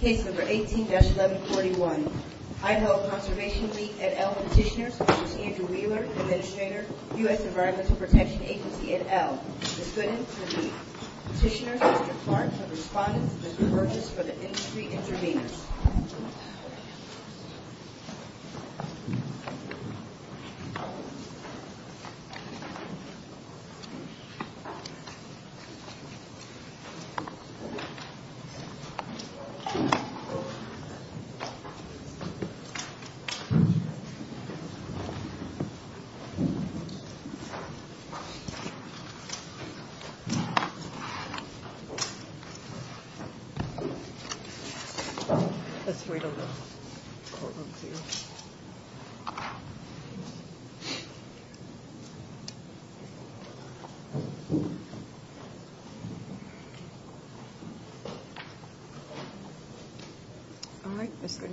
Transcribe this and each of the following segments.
Case number 18-1141. Idaho Conservation League, et al. Petitioners v. Andrew Wheeler, Administrator, U.S. Environmental Protection Agency, et al. Petitioners, Mr. Clark, have responded to Mr. Burgess for the industry intervenors. Mr. Burgess has responded to Mr. Burgess for the industry intervenors.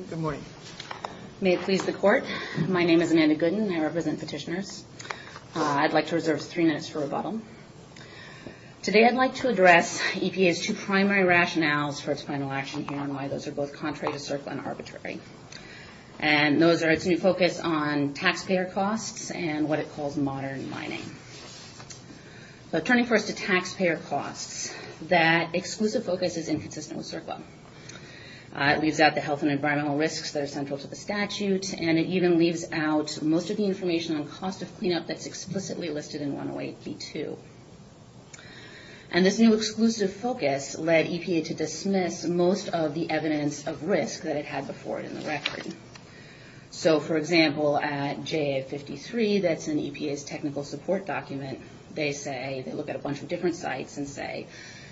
Good morning. May it please the Court, my name is Amanda Gooden and I represent Petitioners. I'd like to reserve three minutes for rebuttal. Today I'd like to address EPA's two primary rationales for its final action here and why those are both contrary to circle and arbitrary. And those are its new focus on taxpayer costs and what it calls modern mining. But turning first to taxpayer costs, that exclusive focus is inconsistent with circle. It leaves out the health and environmental risks that are central to the statute, and it even leaves out most of the information on cost of cleanup that's explicitly listed in 108b2. And this new exclusive focus led EPA to dismiss most of the evidence of risk that it had before it in the record. So, for example, at JA53, that's an EPA's technical support document, they say, they look at a bunch of different sites and say,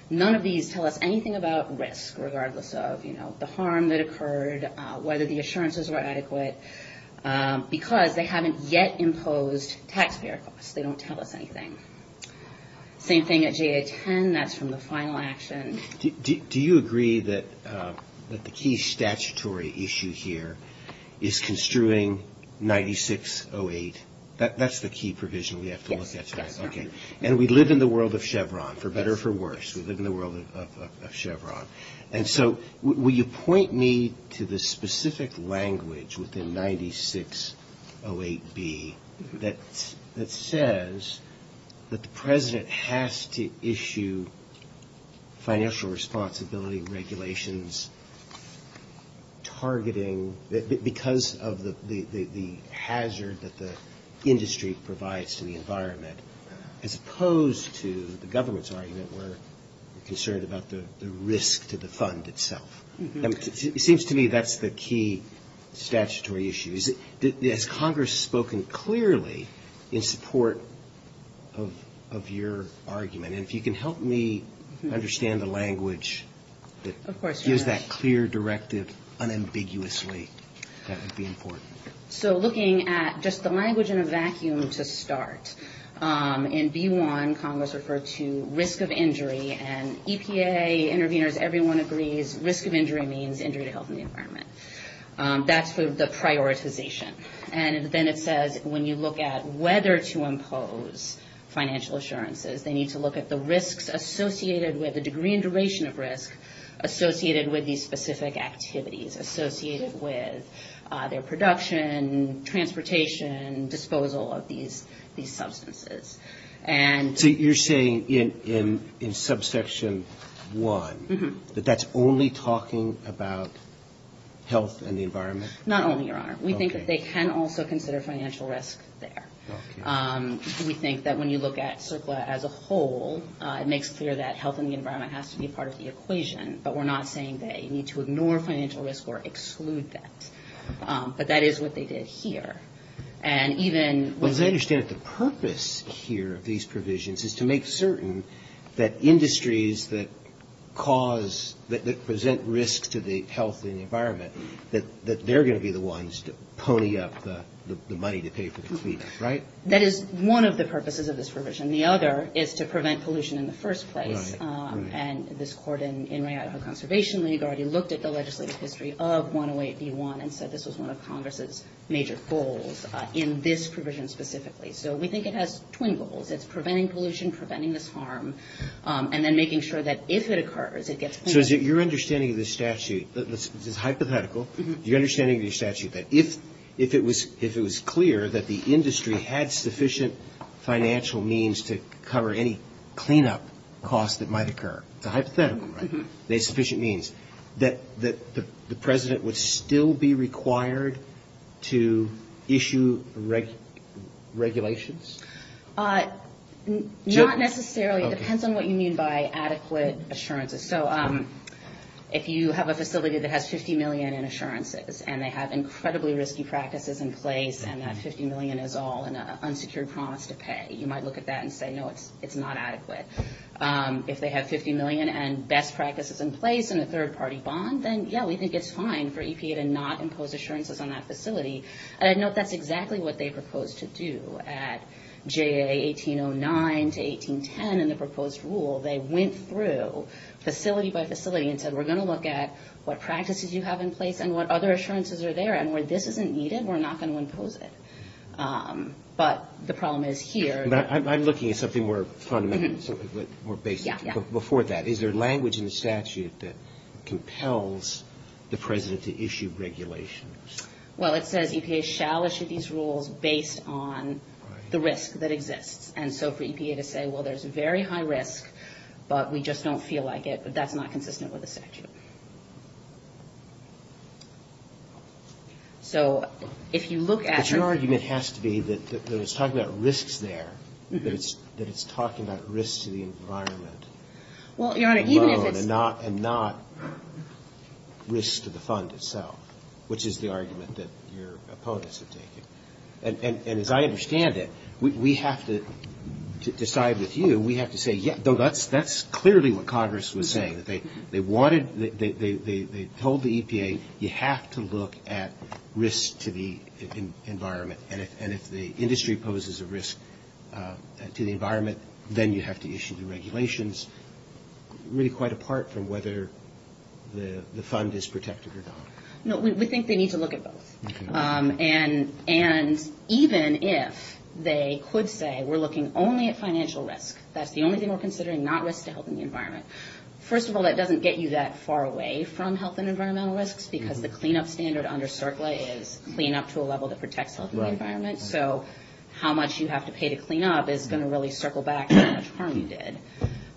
none of these tell us anything about risk, regardless of, you know, the harm that occurred, whether the assurances were adequate, because they haven't yet imposed taxpayer costs, they don't tell us anything. Same thing at JA10, that's from the final action. Do you agree that the key statutory issue here is construing 9608? That's the key provision we have to look at. And we live in the world of Chevron, for better or for worse, we live in the world of Chevron. And so will you point me to the specific language within 9608B that says that the President has to issue financial responsibility regulations targeting, because of the hazard that the industry provides to the environment, as opposed to the government's argument where they're concerned about the risk of damage to the fund itself. It seems to me that's the key statutory issue. Has Congress spoken clearly in support of your argument? And if you can help me understand the language that gives that clear directive unambiguously, that would be important. So, looking at just the language in a vacuum to start. In B1, Congress referred to risk of injury, and EPA, interveners, everyone agrees risk of injury means injury to health and the environment. That's the prioritization. And then it says when you look at whether to impose financial assurances, they need to look at the risks associated with the degree and duration of risk associated with these specific activities, associated with their production, transportation, disposal of these substances. So you're saying in subsection 1, that that's only talking about health and the environment? Not only, Your Honor. We think that they can also consider financial risk there. We think that when you look at CERCLA as a whole, it makes clear that health and the environment has to be part of the equation. But we're not saying that you need to ignore financial risk or exclude that. But that is what they did here. And even... Well, as I understand it, the purpose here of these provisions is to make certain that industries that cause, that present risk to the health and the environment, that they're going to be the ones to pony up the money to pay for the cleat, right? That is one of the purposes of this provision. The other is to prevent pollution in the first place. And this court in Rayataho Conservation League already looked at the legislative history of 108B1 and said this was one of Congress' major goals in this provision specifically. So we think it has twin goals. It's preventing pollution, preventing this harm, and then making sure that if it occurs, it gets cleaned up. So your understanding of this statute is hypothetical. Your understanding of the statute that if it was clear that the industry had sufficient financial means to cover any cleanup costs that might occur, it's a hypothetical, right? They had sufficient means. That the President would still be required to issue regulations? Not necessarily. It depends on what you mean by adequate assurances. So if you have a facility that has $50 million in assurances, and they have incredibly risky practices in place, and that $50 million is all an unsecured promise to pay, you might look at that and say, no, it's not adequate. If they have $50 million and best practices in place and a third-party bond, then yeah, we think it's fine for EPA to not impose assurances on that facility. And I know that's exactly what they proposed to do at JA 1809 to 1810 in the proposed rule. They went through facility by facility and said, we're going to look at what practices you have in place and what other assurances are there. And where this isn't needed, we're not going to impose it. But the problem is here. I'm looking at something more fundamental, something more basic. Before that, is there language in the statute that compels the President to issue regulations? Well, it says EPA shall issue these rules based on the risk that exists. And so for EPA to say, well, there's very high risk, but we just don't feel like it, that's not consistent with the statute. So if you look at the ---- But your argument has to be that it's talking about risks there, that it's talking about risks to the environment. Well, Your Honor, even if it's ---- And not risks to the fund itself, which is the argument that your opponents have taken. And as I understand it, we have to decide with you, we have to say, yeah, that's clearly what Congress was saying, that they wanted they told the EPA, you have to look at risk to the environment. And if the industry poses a risk to the environment, then you have to issue the regulations. Really quite apart from whether the fund is protected or not. No, we think they need to look at both. And even if they could say, we're looking only at financial risk, that's the only thing we're considering, not risk to health and the environment. First of all, that doesn't get you that far away from health and environmental risks, because the cleanup standard under CERCLA is clean up to a level that protects health and the environment. So how much you have to pay to clean up is going to really circle back to how much harm you did.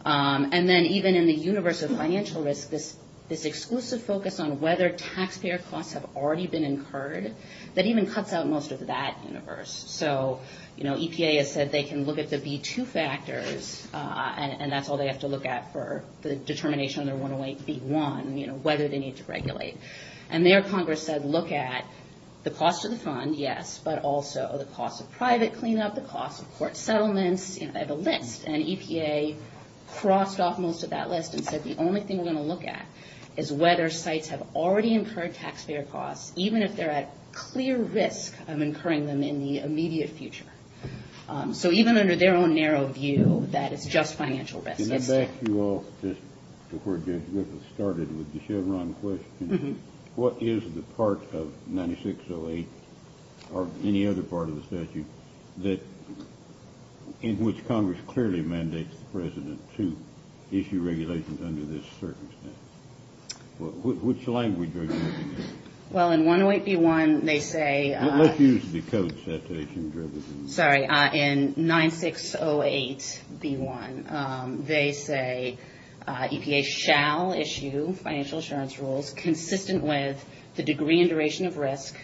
And then even in the universe of financial risk, this exclusive focus on whether taxpayer costs have already been incurred, that even cuts out most of that universe. So EPA has said they can look at the B2 factors, and that's all they have to look at for the determination of their 108B1, whether they need to regulate. And there Congress said, look at the cost of the fund, yes, but also the cost of private cleanup, the cost of court settlements, the list. And EPA crossed off most of that list and said, the only thing we're going to look at is whether sites have already incurred taxpayer costs, even if they're at clear risk of incurring them in the immediate future. So even under their own narrow view, that it's just financial risk. Back to where we started with the Chevron question, what is the part of 9608, or any other part of the statute, in which Congress clearly mandates the president to issue regulations under this circumstance? Which language are you looking at? Well, in 108B1, they say... Let's use the code. Sorry, in 9608B1, they say EPA shall issue financial assurance rules consistent with the degree and duration of risk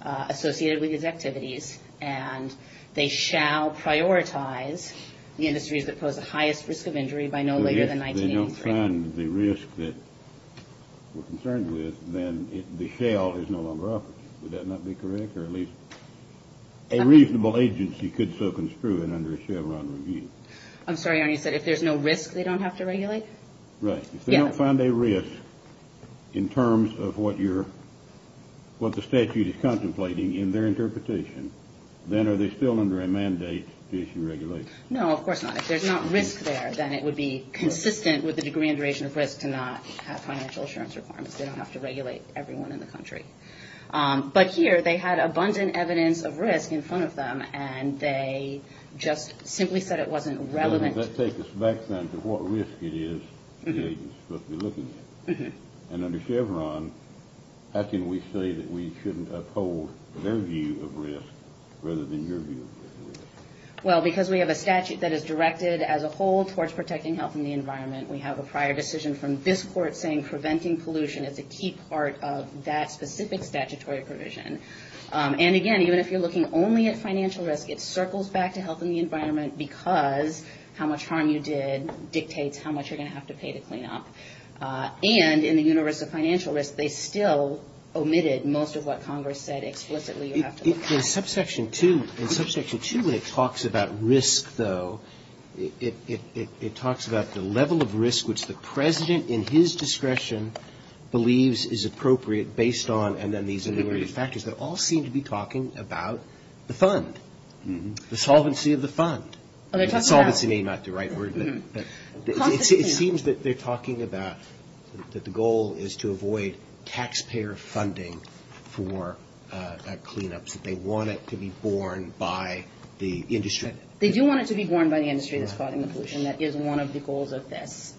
associated with these activities, and they shall prioritize the industries that pose the highest risk of injury by no later than 1983. If they don't find the risk that we're concerned with, then the shell is no longer operative. Would that not be correct? Or at least a reasonable agency could so construe it under a Chevron review. I'm sorry. You said if there's no risk, they don't have to regulate? Right. If they don't find a risk in terms of what the statute is contemplating in their interpretation, then are they still under a mandate to issue regulations? No, of course not. If there's not risk there, then it would be consistent with the degree and duration of risk to not have financial assurance requirements. They don't have to regulate everyone in the country. But here, they had abundant evidence of risk in front of them, and they just simply said it wasn't relevant. Let's take this back then to what risk it is the agency is supposed to be looking at. And under Chevron, how can we say that we shouldn't uphold their view of risk rather than your view of risk? Well, because we have a statute that is directed as a whole towards protecting health and the environment. We have a prior decision from this court saying preventing pollution is a key part of that specific statutory provision. And again, even if you're looking only at financial risk, it circles back to health and the environment because how much harm you did dictates how much you're going to have to pay to clean up. And in the universe of financial risk, they still omitted most of what Congress said explicitly you have to look at. In Subsection 2, when it talks about risk, though, it talks about the level of risk which the President, in his discretion, believes is appropriate based on, and then these other factors. They all seem to be talking about the fund, the solvency of the fund. Solvency may not be the right word, but it seems that they're talking about that the goal is to avoid taxpayer funding for cleanups. They want it to be borne by the industry. They do want it to be borne by the industry that's causing the pollution. That is one of the goals of this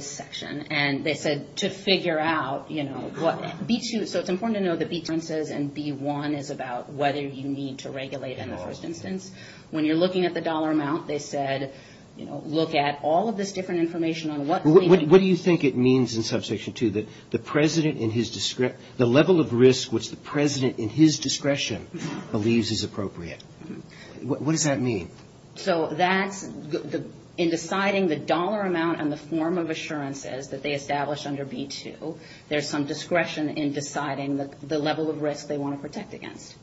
section. And they said to figure out, you know, what B2, so it's important to know that B2 says and B1 is about whether you need to regulate in the first instance. When you're looking at the dollar amount, they said, you know, look at all of this different information on what... What do you think it means in Subsection 2, that the President, in his, the level of risk which the President, in his discretion, believes is appropriate? What does that mean? So that's, in deciding the dollar amount and the form of assurances that they established under B2, there's some discretion in deciding the level of risk they want to protect against.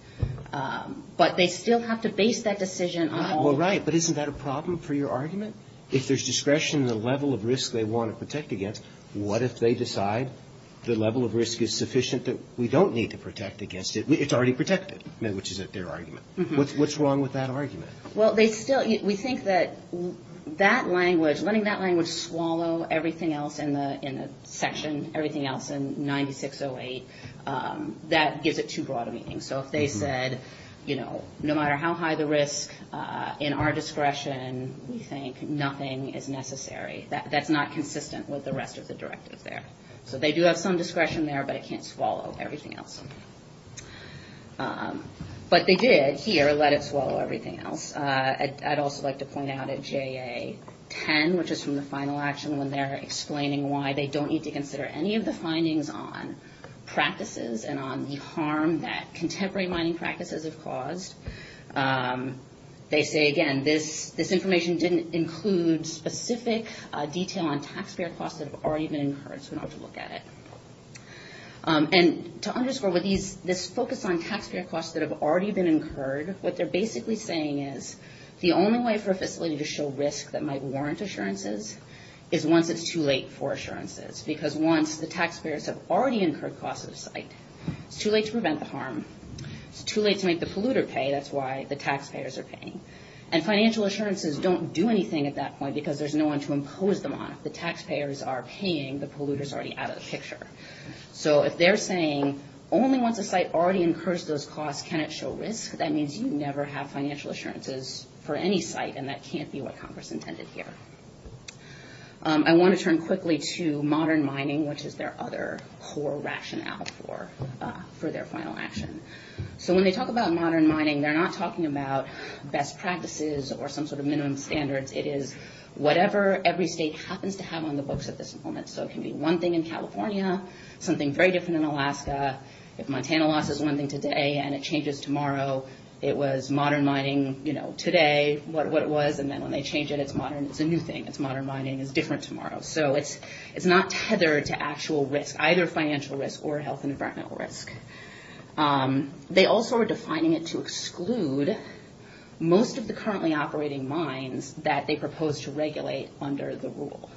But they still have to base that decision on... Well, right, but isn't that a problem for your argument? If there's discretion in the level of risk they want to protect against, what if they decide the level of risk is sufficient that we don't need to protect against it? It's already protected, which is their argument. Well, they still, we think that that language, letting that language swallow everything else in the section, everything else in 9608, that gives it too broad a meaning. So if they said, you know, no matter how high the risk in our discretion, we think nothing is necessary, that's not consistent with the rest of the directive there. So they do have some discretion there, but it can't swallow everything else. But they did here let it swallow everything else. I'd also like to point out at JA10, which is from the final action, when they're explaining why they don't need to consider any of the findings on practices and on the harm that contemporary mining practices have caused, they say, again, this information didn't include specific detail on taxpayer costs that have already been incurred, so we don't have to look at it. And to underscore, with this focus on taxpayer costs that have already been incurred, what they're basically saying is the only way for a facility to show risk that might warrant assurances is once it's too late for assurances. Because once the taxpayers have already incurred costs at the site, it's too late to prevent the harm. It's too late to make the polluter pay. That's why the taxpayers are paying. And financial assurances don't do anything at that point, because there's no one to impose them on. If the taxpayers are paying, the polluter's already out of the picture. So if they're saying, only once a site already incurs those costs can it show risk, that means you never have financial assurances for any site, and that can't be what Congress intended here. I want to turn quickly to modern mining, which is their other core rationale for their final action. So when they talk about modern mining, they're not talking about best practices or some sort of minimum standards. It is whatever every state happens to have on the books at this moment. So it can be one thing in California, something very different in Alaska. If Montana loss is one thing today and it changes tomorrow, it was modern mining today, what it was. And then when they change it, it's modern. It's a new thing. It's modern mining. It's different tomorrow. So it's not tethered to actual risk, either financial risk or health and environmental risk. They also are defining it to exclude most of the currently operating mines that they propose to regulate under the rule.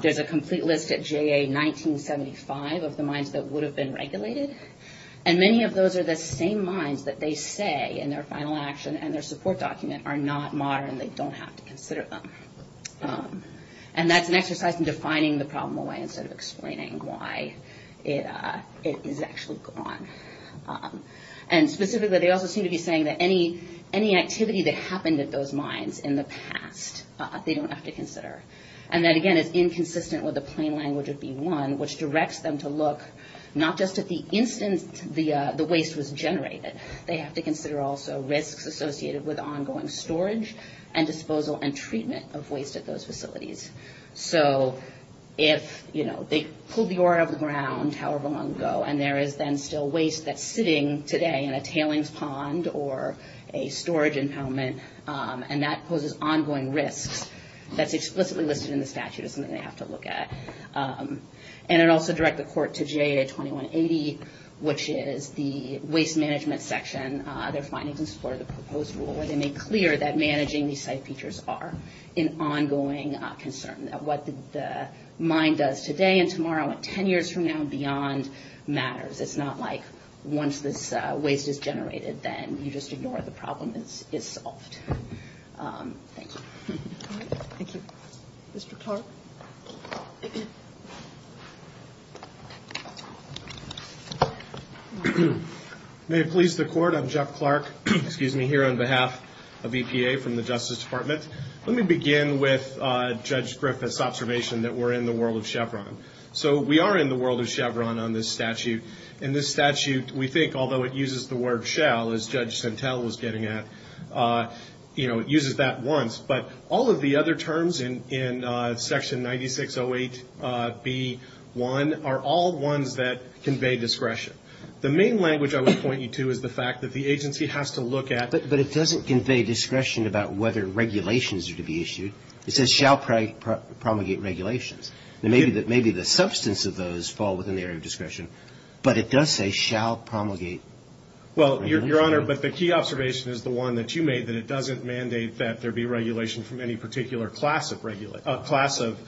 There's a complete list at JA 1975 of the mines that would have been regulated, and many of those are the same mines that they say in their final action and their support document are not modern and they don't have to consider them. And that's an exercise in defining the problem away instead of explaining why it is actually gone. And specifically, they also seem to be saying that any activity that happened at those mines in the past, they don't have to consider, and that again is inconsistent with the plain language of B1, which directs them to look not just at the instance the waste was generated. They have to consider also risks associated with ongoing storage and disposal and treatment of waste at those facilities. So if they pulled the ore out of the ground however long ago, and there is then still waste that's sitting today in a tailings pond or a storage impoundment, and that poses ongoing risks, that's explicitly listed in the statute as something they have to look at. And it also directs the court to JA 2180, which is the waste management section, their findings in support of the proposed rule, where they make clear that managing these site features are an ongoing concern, that what the mine does today and tomorrow and 10 years from now and beyond matters. It's not like once this waste is generated, then you just ignore the problem is solved. Jeff Clark May it please the court, I'm Jeff Clark, here on behalf of EPA from the Justice Department. Let me begin with Judge Griffith's observation that we're in the world of Chevron. So we are in the world of Chevron on this statute. And this statute, we think, although it uses the word shall, as Judge Centel was getting at, you know, it uses that once, but all of the other terms in Section 9608B1 are all ones that convey discretion. The main language I would point you to is the fact that the agency has to look at But it doesn't convey discretion about whether regulations are to be issued. It says shall promulgate regulations. Maybe the substance of those fall within the area of discretion, but it does say shall promulgate regulations. Well, Your Honor, but the key observation is the one that you made, that it doesn't mandate that there be regulation from any particular class of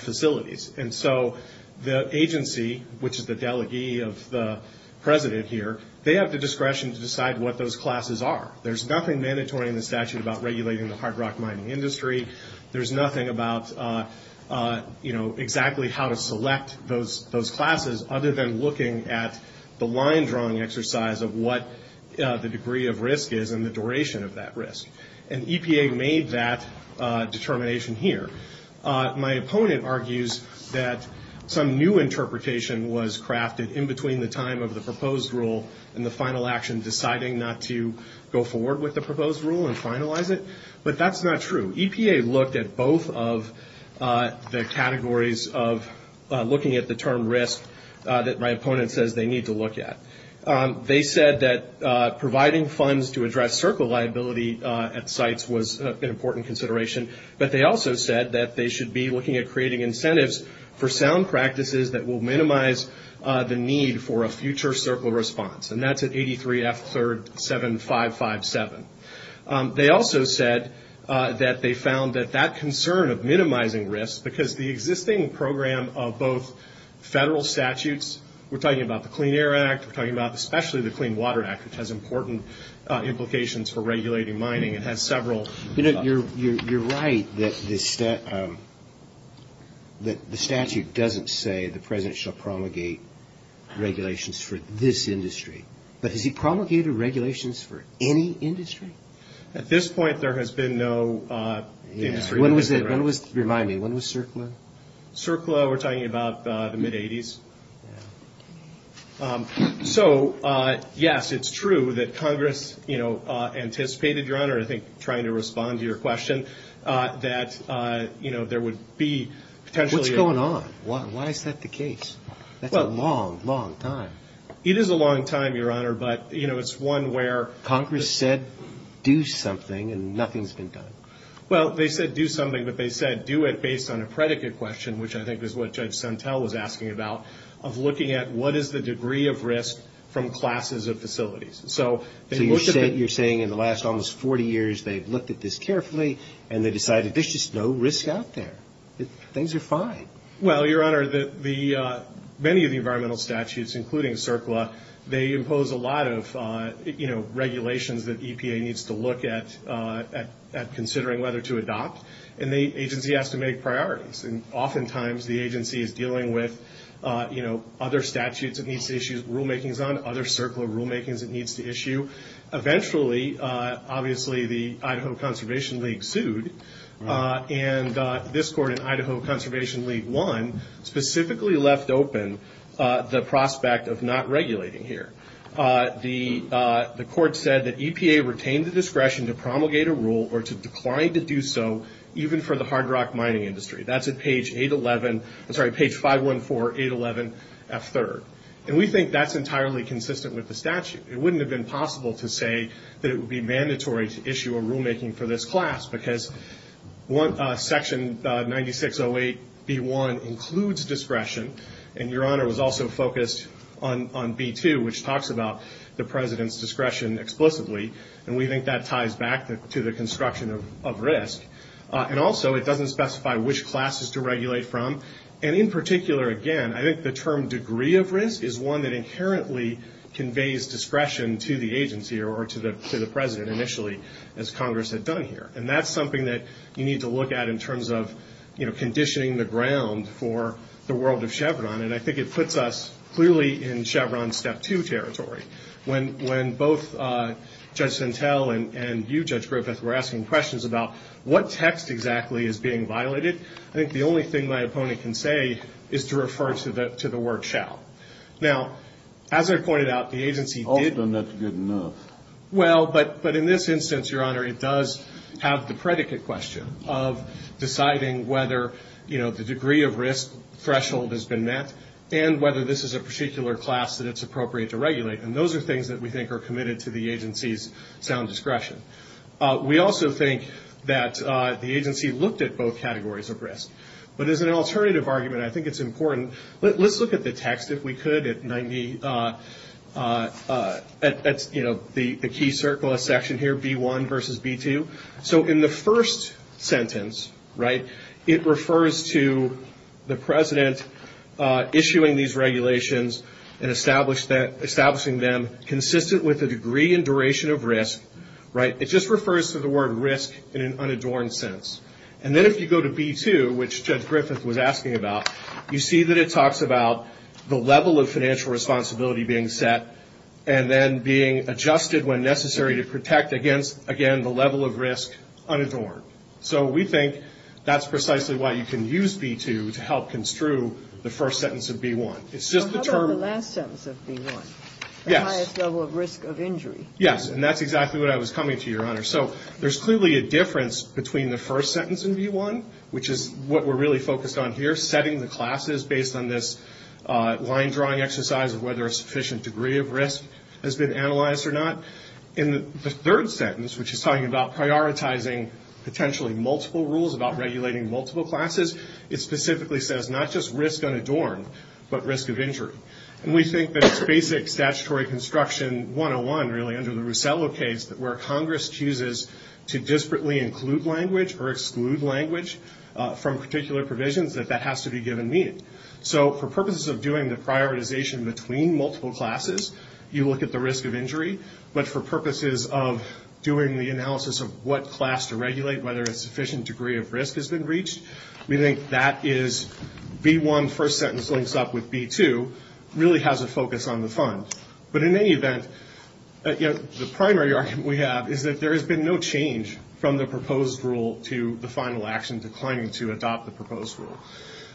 facilities. And so the agency, which is the delegee of the president here, they have the discretion to decide what those classes are. There's nothing mandatory in the statute about regulating the hard rock mining industry. There's nothing about, you know, exactly how to select those classes other than looking at the line drawing exercise of what the degree of risk is and the duration of that risk. And EPA made that determination here. My opponent argues that some new interpretation was crafted in between the time of the proposed rule and the final action deciding not to go forward with the proposed rule and finalize it. But that's not true. EPA looked at both of the categories of looking at the term risk that my opponent says they need to look at. They said that providing funds to address circle liability at sites was an important consideration. But they also said that they should be looking at creating incentives for sound practices that will minimize the need for a future circle response. And that's at 83F 3rd 7557. They also said that they found that that concern of minimizing risk, because the existing program of both federal statutes, we're talking about the Clean Air Act, we're talking about especially the Clean Water Act, which has important implications for regulating mining. It has several... You're right that the statute doesn't say the President shall promulgate regulations for this industry. But has he promulgated regulations for any industry? At this point, there has been no... Remind me, when was CERCLA? CERCLA, we're talking about the mid-'80s. So, yes, it's true that Congress anticipated, Your Honor, I think trying to respond to your question, that there would be potentially... What's going on? Why is that the case? That's a long, long time. It is a long time, Your Honor, but it's one where... It's a very intricate question, which I think is what Judge Sentel was asking about, of looking at what is the degree of risk from classes of facilities. So you're saying in the last almost 40 years they've looked at this carefully, and they decided there's just no risk out there. Things are fine. Well, Your Honor, many of the environmental statutes, including CERCLA, they impose a lot of regulations that EPA needs to look at, considering whether to adopt, and the agency has to make priorities. Oftentimes the agency is dealing with other statutes it needs to issue rulemakings on, other CERCLA rulemakings it needs to issue. Eventually, obviously, the Idaho Conservation League sued, and this court in Idaho Conservation League won, specifically left open the prospect of not regulating here. The court said that EPA retained the discretion to promulgate a rule or to decline to do so, even for the hard rock mining industry. That's at page 514, 811, F3. And we think that's entirely consistent with the statute. It wouldn't have been possible to say that it would be mandatory to issue a rulemaking for this class, because Section 9608B1 includes discretion, and Your Honor was also focused on B2, which talks about the President's discretion explicitly. And we think that ties back to the construction of risk. And also it doesn't specify which classes to regulate from. And in particular, again, I think the term degree of risk is one that inherently conveys discretion to the agency or to the President initially, as Congress had done here. And that's something that you need to look at in terms of, you know, conditioning the ground for the world of Chevron. And I think it puts us clearly in Chevron's Step 2 territory. When both Judge Sintel and you, Judge Griffith, were asking questions about what text exactly is being violated, I think the only thing my opponent can say is to refer to the word shall. Now, as I pointed out, the agency did... I've done that good enough. Well, but in this instance, Your Honor, it does have the predicate question of deciding whether, you know, the degree of risk threshold has been met, and whether this is a particular class that it's appropriate to regulate. And those are things that we think are committed to the agency's sound discretion. We also think that the agency looked at both categories of risk. But as an alternative argument, I think it's important... Let's look at the text, if we could, at 90... You know, the key circle, a section here, B1 versus B2. So in the first sentence, right, it refers to the President issuing these regulations and establishing them consistent with the degree and duration of risk, right? It just refers to the word risk in an unadorned sense. And then if you go to B2, which Judge Griffith was asking about, you see that it talks about the level of financial responsibility being set and then being adjusted when necessary to protect against, again, the level of risk unadorned. So we think that's precisely why you can use B2 to help construe the first sentence of B1. It's just the term... The first sentence in B1, which is what we're really focused on here, setting the classes based on this line-drawing exercise of whether a sufficient degree of risk has been analyzed or not. In the third sentence, which is talking about prioritizing potentially multiple rules about regulating multiple classes, it specifically says not just risk unadorned, but risk of injury. And we think that it's basic statutory construction 101, really, under the Russello case, where Congress chooses to disparately include language or exclude language from particular provisions, that that has to be given meaning. So for purposes of doing the prioritization between multiple classes, you look at the risk of injury. But for purposes of doing the analysis of what class to regulate, whether a sufficient degree of risk has been reached, we think that is... The first sentence links up with B2, really has a focus on the fund. But in any event, the primary argument we have is that there has been no change from the proposed rule to the final action declining to adopt the proposed rule.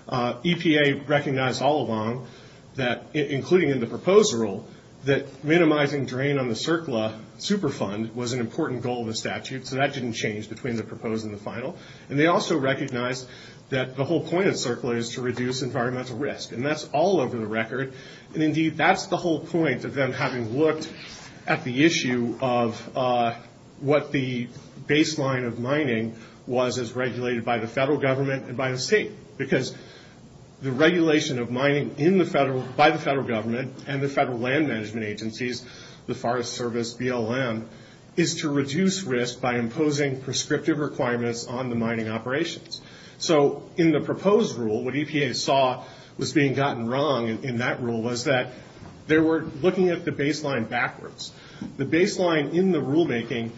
EPA recognized all along that, including in the proposed rule, that minimizing drain on the CERCLA superfund was an important goal of the statute, so that didn't change between the proposed and the final. And they also recognized that the whole point of CERCLA is to reduce environmental risk. And that's all over the record. And indeed, that's the whole point of them having looked at the issue of what the baseline of mining was as regulated by the federal government and by the state. Because the regulation of mining by the federal government and the federal land management agencies, the Forest Service, BLM, is to reduce risk by imposing prescriptive requirements on the mining operations. So in the proposed rule, what EPA saw was being gotten wrong in that rule was that they were looking at the baseline backwards. The baseline in the rulemaking...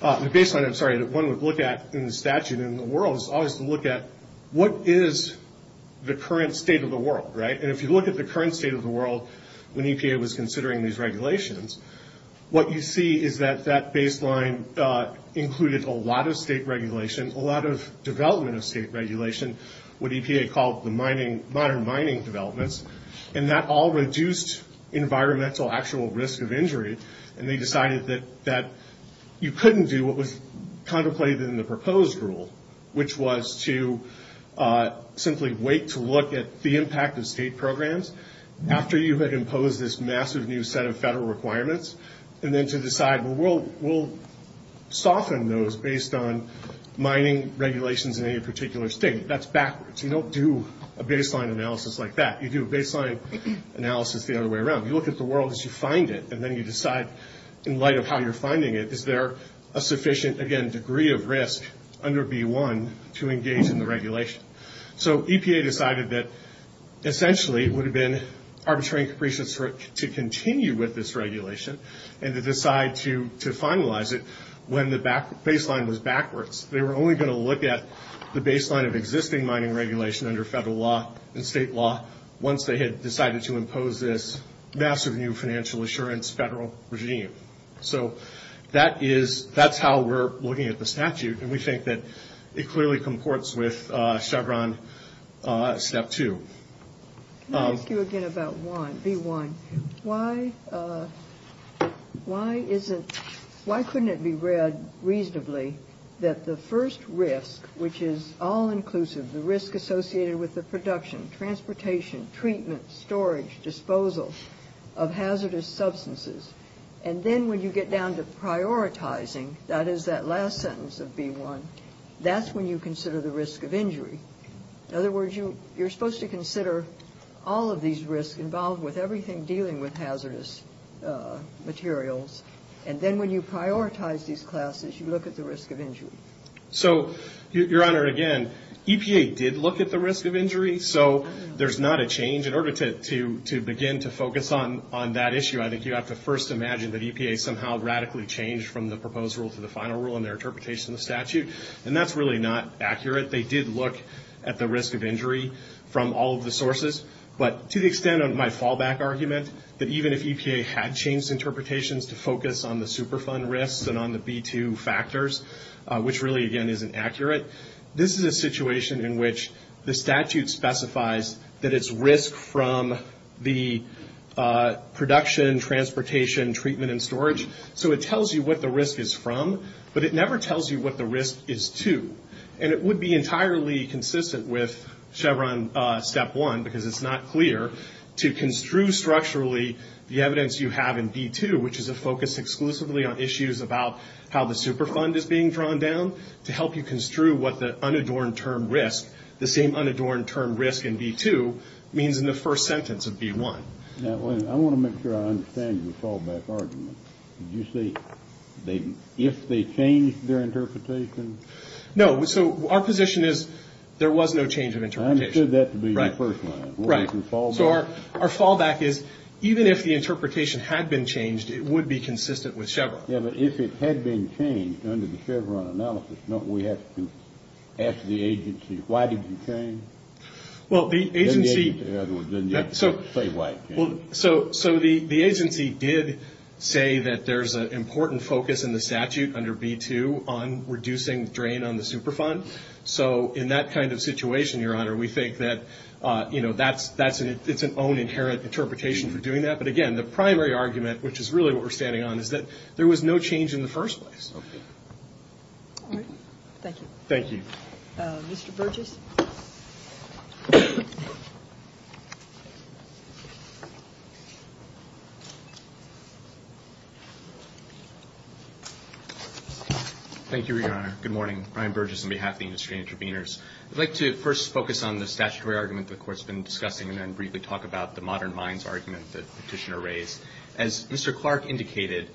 The baseline, I'm sorry, that one would look at in the statute in the world is always to look at what is the current state of the world, right? And if you look at the current state of the world when EPA was considering these regulations, what you see is that that baseline included a lot of state regulation, a lot of development of state regulation, what EPA called the modern mining developments. And that all reduced environmental actual risk of injury. And they decided that you couldn't do what was contemplated in the proposed rule, which was to simply wait to look at the impact of state programs after you had imposed this massive new set of federal requirements, and then to decide, well, we'll soften those based on mining regulations in any particular state. That's backwards. You don't do a baseline analysis like that. You do a baseline analysis the other way around. You look at the world as you find it, and then you decide, in light of how you're finding it, is there a sufficient, again, degree of risk under B1 to engage in the regulation? So EPA decided that essentially it would have been arbitrary and capricious to continue with this regulation and to decide to finalize it when the baseline was backwards. They were only going to look at the baseline of existing mining regulation under federal law and state law once they had decided to impose this massive new financial assurance federal regime. So that's how we're looking at the statute, and we think that it clearly comports with Chevron Step 2. Can I ask you again about B1? Why couldn't it be read reasonably that the first risk, which is all-inclusive, the risk associated with the production, transportation, treatment, storage, disposal of hazardous substances, and then when you get down to prioritizing, that is that last sentence of B1, that's when you consider the risk of injury. In other words, you're supposed to consider all of these risks involved with everything dealing with hazardous materials, and then when you prioritize these classes, you look at the risk of injury. So, Your Honor, again, EPA did look at the risk of injury, so there's not a change. In order to begin to focus on that issue, I think you have to first imagine that EPA somehow radically changed from the proposed rule to the final rule in their interpretation of the statute, and that's really not accurate. They did look at the risk of injury from all of the sources, but to the extent of my fallback argument, that even if EPA had changed interpretations to focus on the Superfund risks and on the B2 factors, which really, again, isn't accurate, this is a situation in which the statute specifies that it's risk from the production, transportation, treatment, and storage. So it tells you what the risk is from, but it never tells you what the risk is to. And it would be entirely consistent with Chevron Step 1, because it's not clear, to construe structurally the evidence you have in B2, which is a focus exclusively on issues about how the Superfund is being drawn down, to help you construe what the unadorned term risk, the same unadorned term risk in B2, means in the first sentence of B1. Now, I want to make sure I understand your fallback argument. Did you say if they changed their interpretation? No. So our position is there was no change of interpretation. I understood that to be your first line. Right. So our fallback is even if the interpretation had been changed, it would be consistent with Chevron. Yeah, but if it had been changed under the Chevron analysis, don't we have to ask the agency, why did you change? Well, the agency did say that there's an important focus in the statute under B2 on reducing drain on the Superfund. So in that kind of situation, Your Honor, we think that it's an own inherent interpretation for doing that. But, again, the primary argument, which is really what we're standing on, is that there was no change in the first place. Okay. All right. Thank you. Thank you. Mr. Burgess. Thank you, Your Honor. Good morning. Brian Burgess on behalf of the Industry Interveners. I'd like to first focus on the statutory argument the Court's been discussing and then briefly talk about the modern mines argument that Petitioner raised. As Mr. Clark indicated,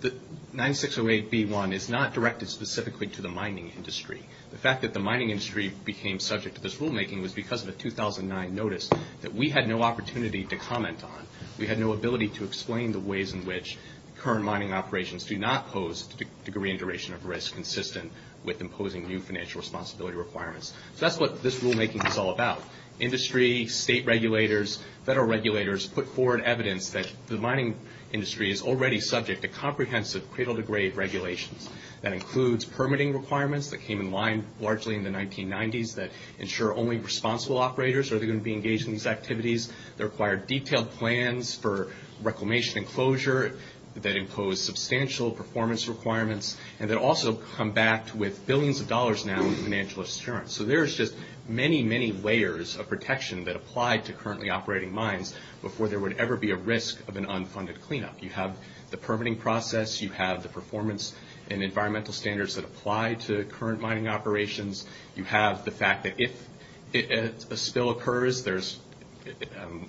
the 9608B1 is not directed specifically to the mining industry. The fact that the mining industry became subject to this rulemaking was because of a 2009 notice that we had no opportunity to comment on. We had no ability to explain the ways in which current mining operations do not pose a degree and duration of risk consistent with imposing new financial responsibility requirements. So that's what this rulemaking is all about. Industry, state regulators, federal regulators put forward evidence that the mining industry is already subject to comprehensive cradle-to-grave regulations. That includes permitting requirements that came in line largely in the 1990s that ensure only responsible operators are going to be engaged in these activities. They require detailed plans for reclamation and closure that impose substantial performance requirements. And they also come back with billions of dollars now in financial assurance. So there's just many, many layers of protection that apply to currently operating mines before there would ever be a risk of an unfunded cleanup. You have the permitting process. You have the performance and environmental standards that apply to current mining operations. You have the fact that if a spill occurs, there's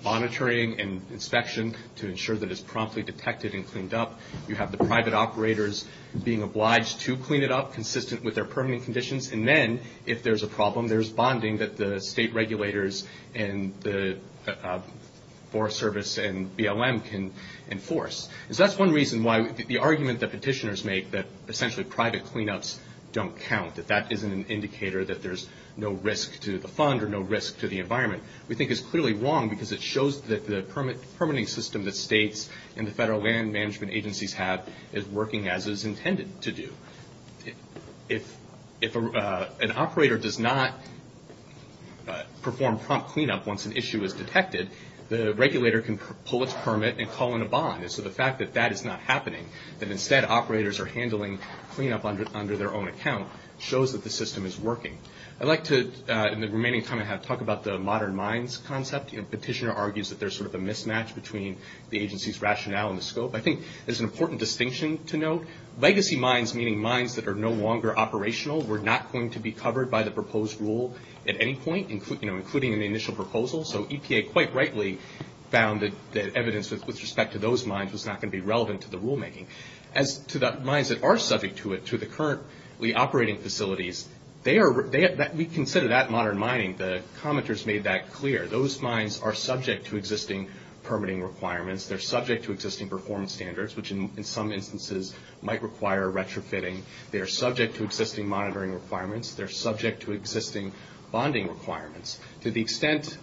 monitoring and inspection to ensure that it's promptly detected and cleaned up. You have the private operators being obliged to clean it up consistent with their permitting conditions. And then if there's a problem, there's bonding that the state regulators and the Forest Service and BLM can enforce. So that's one reason why the argument that petitioners make that essentially private cleanups don't count, that that isn't an indicator that there's no risk to the fund or no risk to the environment, we think is clearly wrong because it shows that the permitting system that states and the federal land management agencies have is working as is intended to do. If an operator does not perform prompt cleanup once an issue is detected, the regulator can pull its permit and call in a bond. And so the fact that that is not happening, that instead operators are handling cleanup under their own account, shows that the system is working. I'd like to, in the remaining time I have, talk about the modern mines concept. Petitioner argues that there's sort of a mismatch between the agency's rationale and the scope. Legacy mines, meaning mines that are no longer operational, were not going to be covered by the proposed rule at any point, including in the initial proposal. So EPA quite rightly found that evidence with respect to those mines was not going to be relevant to the rulemaking. As to the mines that are subject to the currently operating facilities, we consider that modern mining. The commenters made that clear. Those mines are subject to existing permitting requirements. They're subject to existing performance standards, which in some instances might require retrofitting. They are subject to existing monitoring requirements. They're subject to existing bonding requirements. To the extent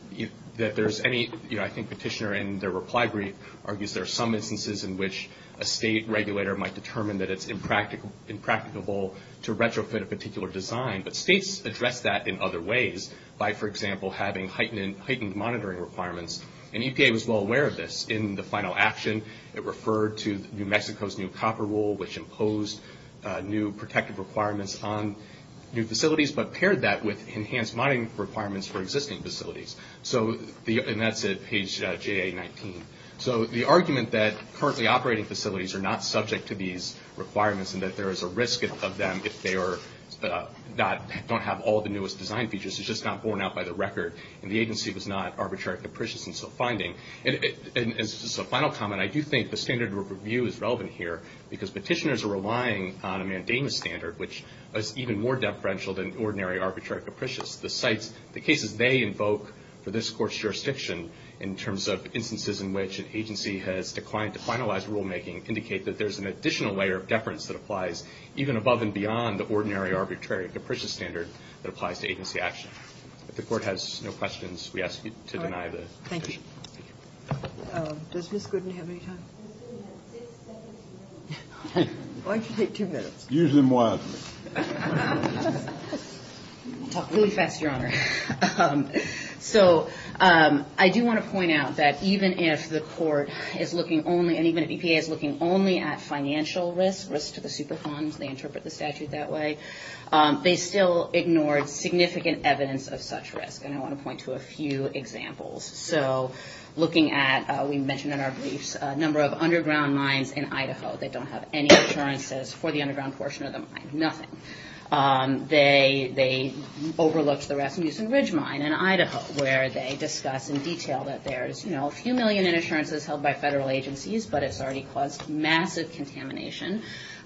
that there's any, you know, I think Petitioner in the reply brief argues there are some instances in which a state regulator might determine that it's impracticable to retrofit a particular design. But states address that in other ways by, for example, having heightened monitoring requirements. And EPA was well aware of this in the final action. It referred to New Mexico's new copper rule, which imposed new protective requirements on new facilities, but paired that with enhanced mining requirements for existing facilities. And that's at page JA-19. So the argument that currently operating facilities are not subject to these requirements and that there is a risk of them if they don't have all the newest design features is just not borne out by the record. And the agency was not arbitrary capricious in its own finding. And as a final comment, I do think the standard of review is relevant here, because Petitioners are relying on a mandamus standard, which is even more deferential than ordinary arbitrary capricious. The sites, the cases they invoke for this Court's jurisdiction in terms of instances in which an agency has declined to finalize rulemaking indicate that there's an additional layer of deference that applies even above and beyond the ordinary arbitrary capricious standard that applies to agency action. If the Court has no questions, we ask you to deny the petition. All right. Thank you. Does Ms. Gooden have any time? Why don't you take two minutes? Use them wisely. I'll talk really fast, Your Honor. So I do want to point out that even if the Court is looking only, and even if EPA is looking only, at financial risk, risk to the super funds, they interpret the statute that way, they still ignored significant evidence of such risk. And I want to point to a few examples. So looking at, we mentioned in our briefs, a number of underground mines in Idaho that don't have any assurances for the underground portion of the mine. Nothing. They overlooked the Rasmussen Ridge mine in Idaho, where they discuss in detail that there's, you know, a few million in assurances held by federal agencies, but it's already caused massive contamination,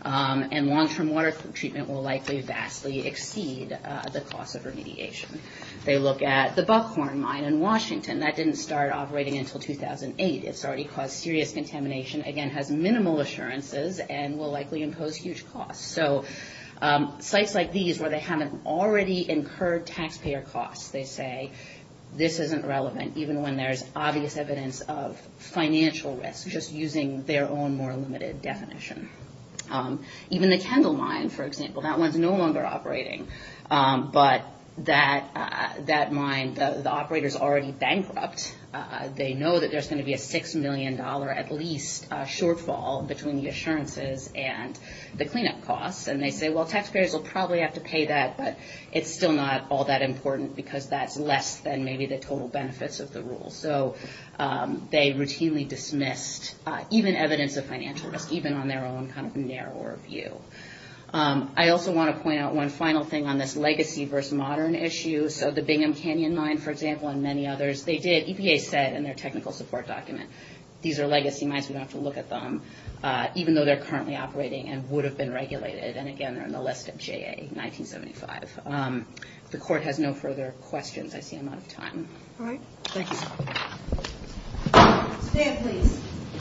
and long-term water treatment will likely vastly exceed the cost of remediation. They look at the Buckhorn mine in Washington. That didn't start operating until 2008. It's already caused serious contamination, again, has minimal assurances, and will likely impose huge costs. So sites like these, where they haven't already incurred taxpayer costs, they say, this isn't relevant, even when there's obvious evidence of financial risk, just using their own more limited definition. Even the Kendall mine, for example, that one's no longer operating. But that mine, the operator's already bankrupt. They know that there's going to be a $6 million, at least, shortfall between the assurances and the cleanup costs. And they say, well, taxpayers will probably have to pay that, but it's still not all that important because that's less than maybe the total benefits of the rule. So they routinely dismissed even evidence of financial risk, even on their own kind of narrower view. I also want to point out one final thing on this legacy versus modern issue. So the Bingham Canyon mine, for example, and many others, they did, EPA said in their technical support document, these are legacy mines, we don't have to look at them, even though they're currently operating and would have been regulated, and again, they're on the list of JA 1975. If the court has no further questions, I see I'm out of time. All right. Thanks. Stand, please.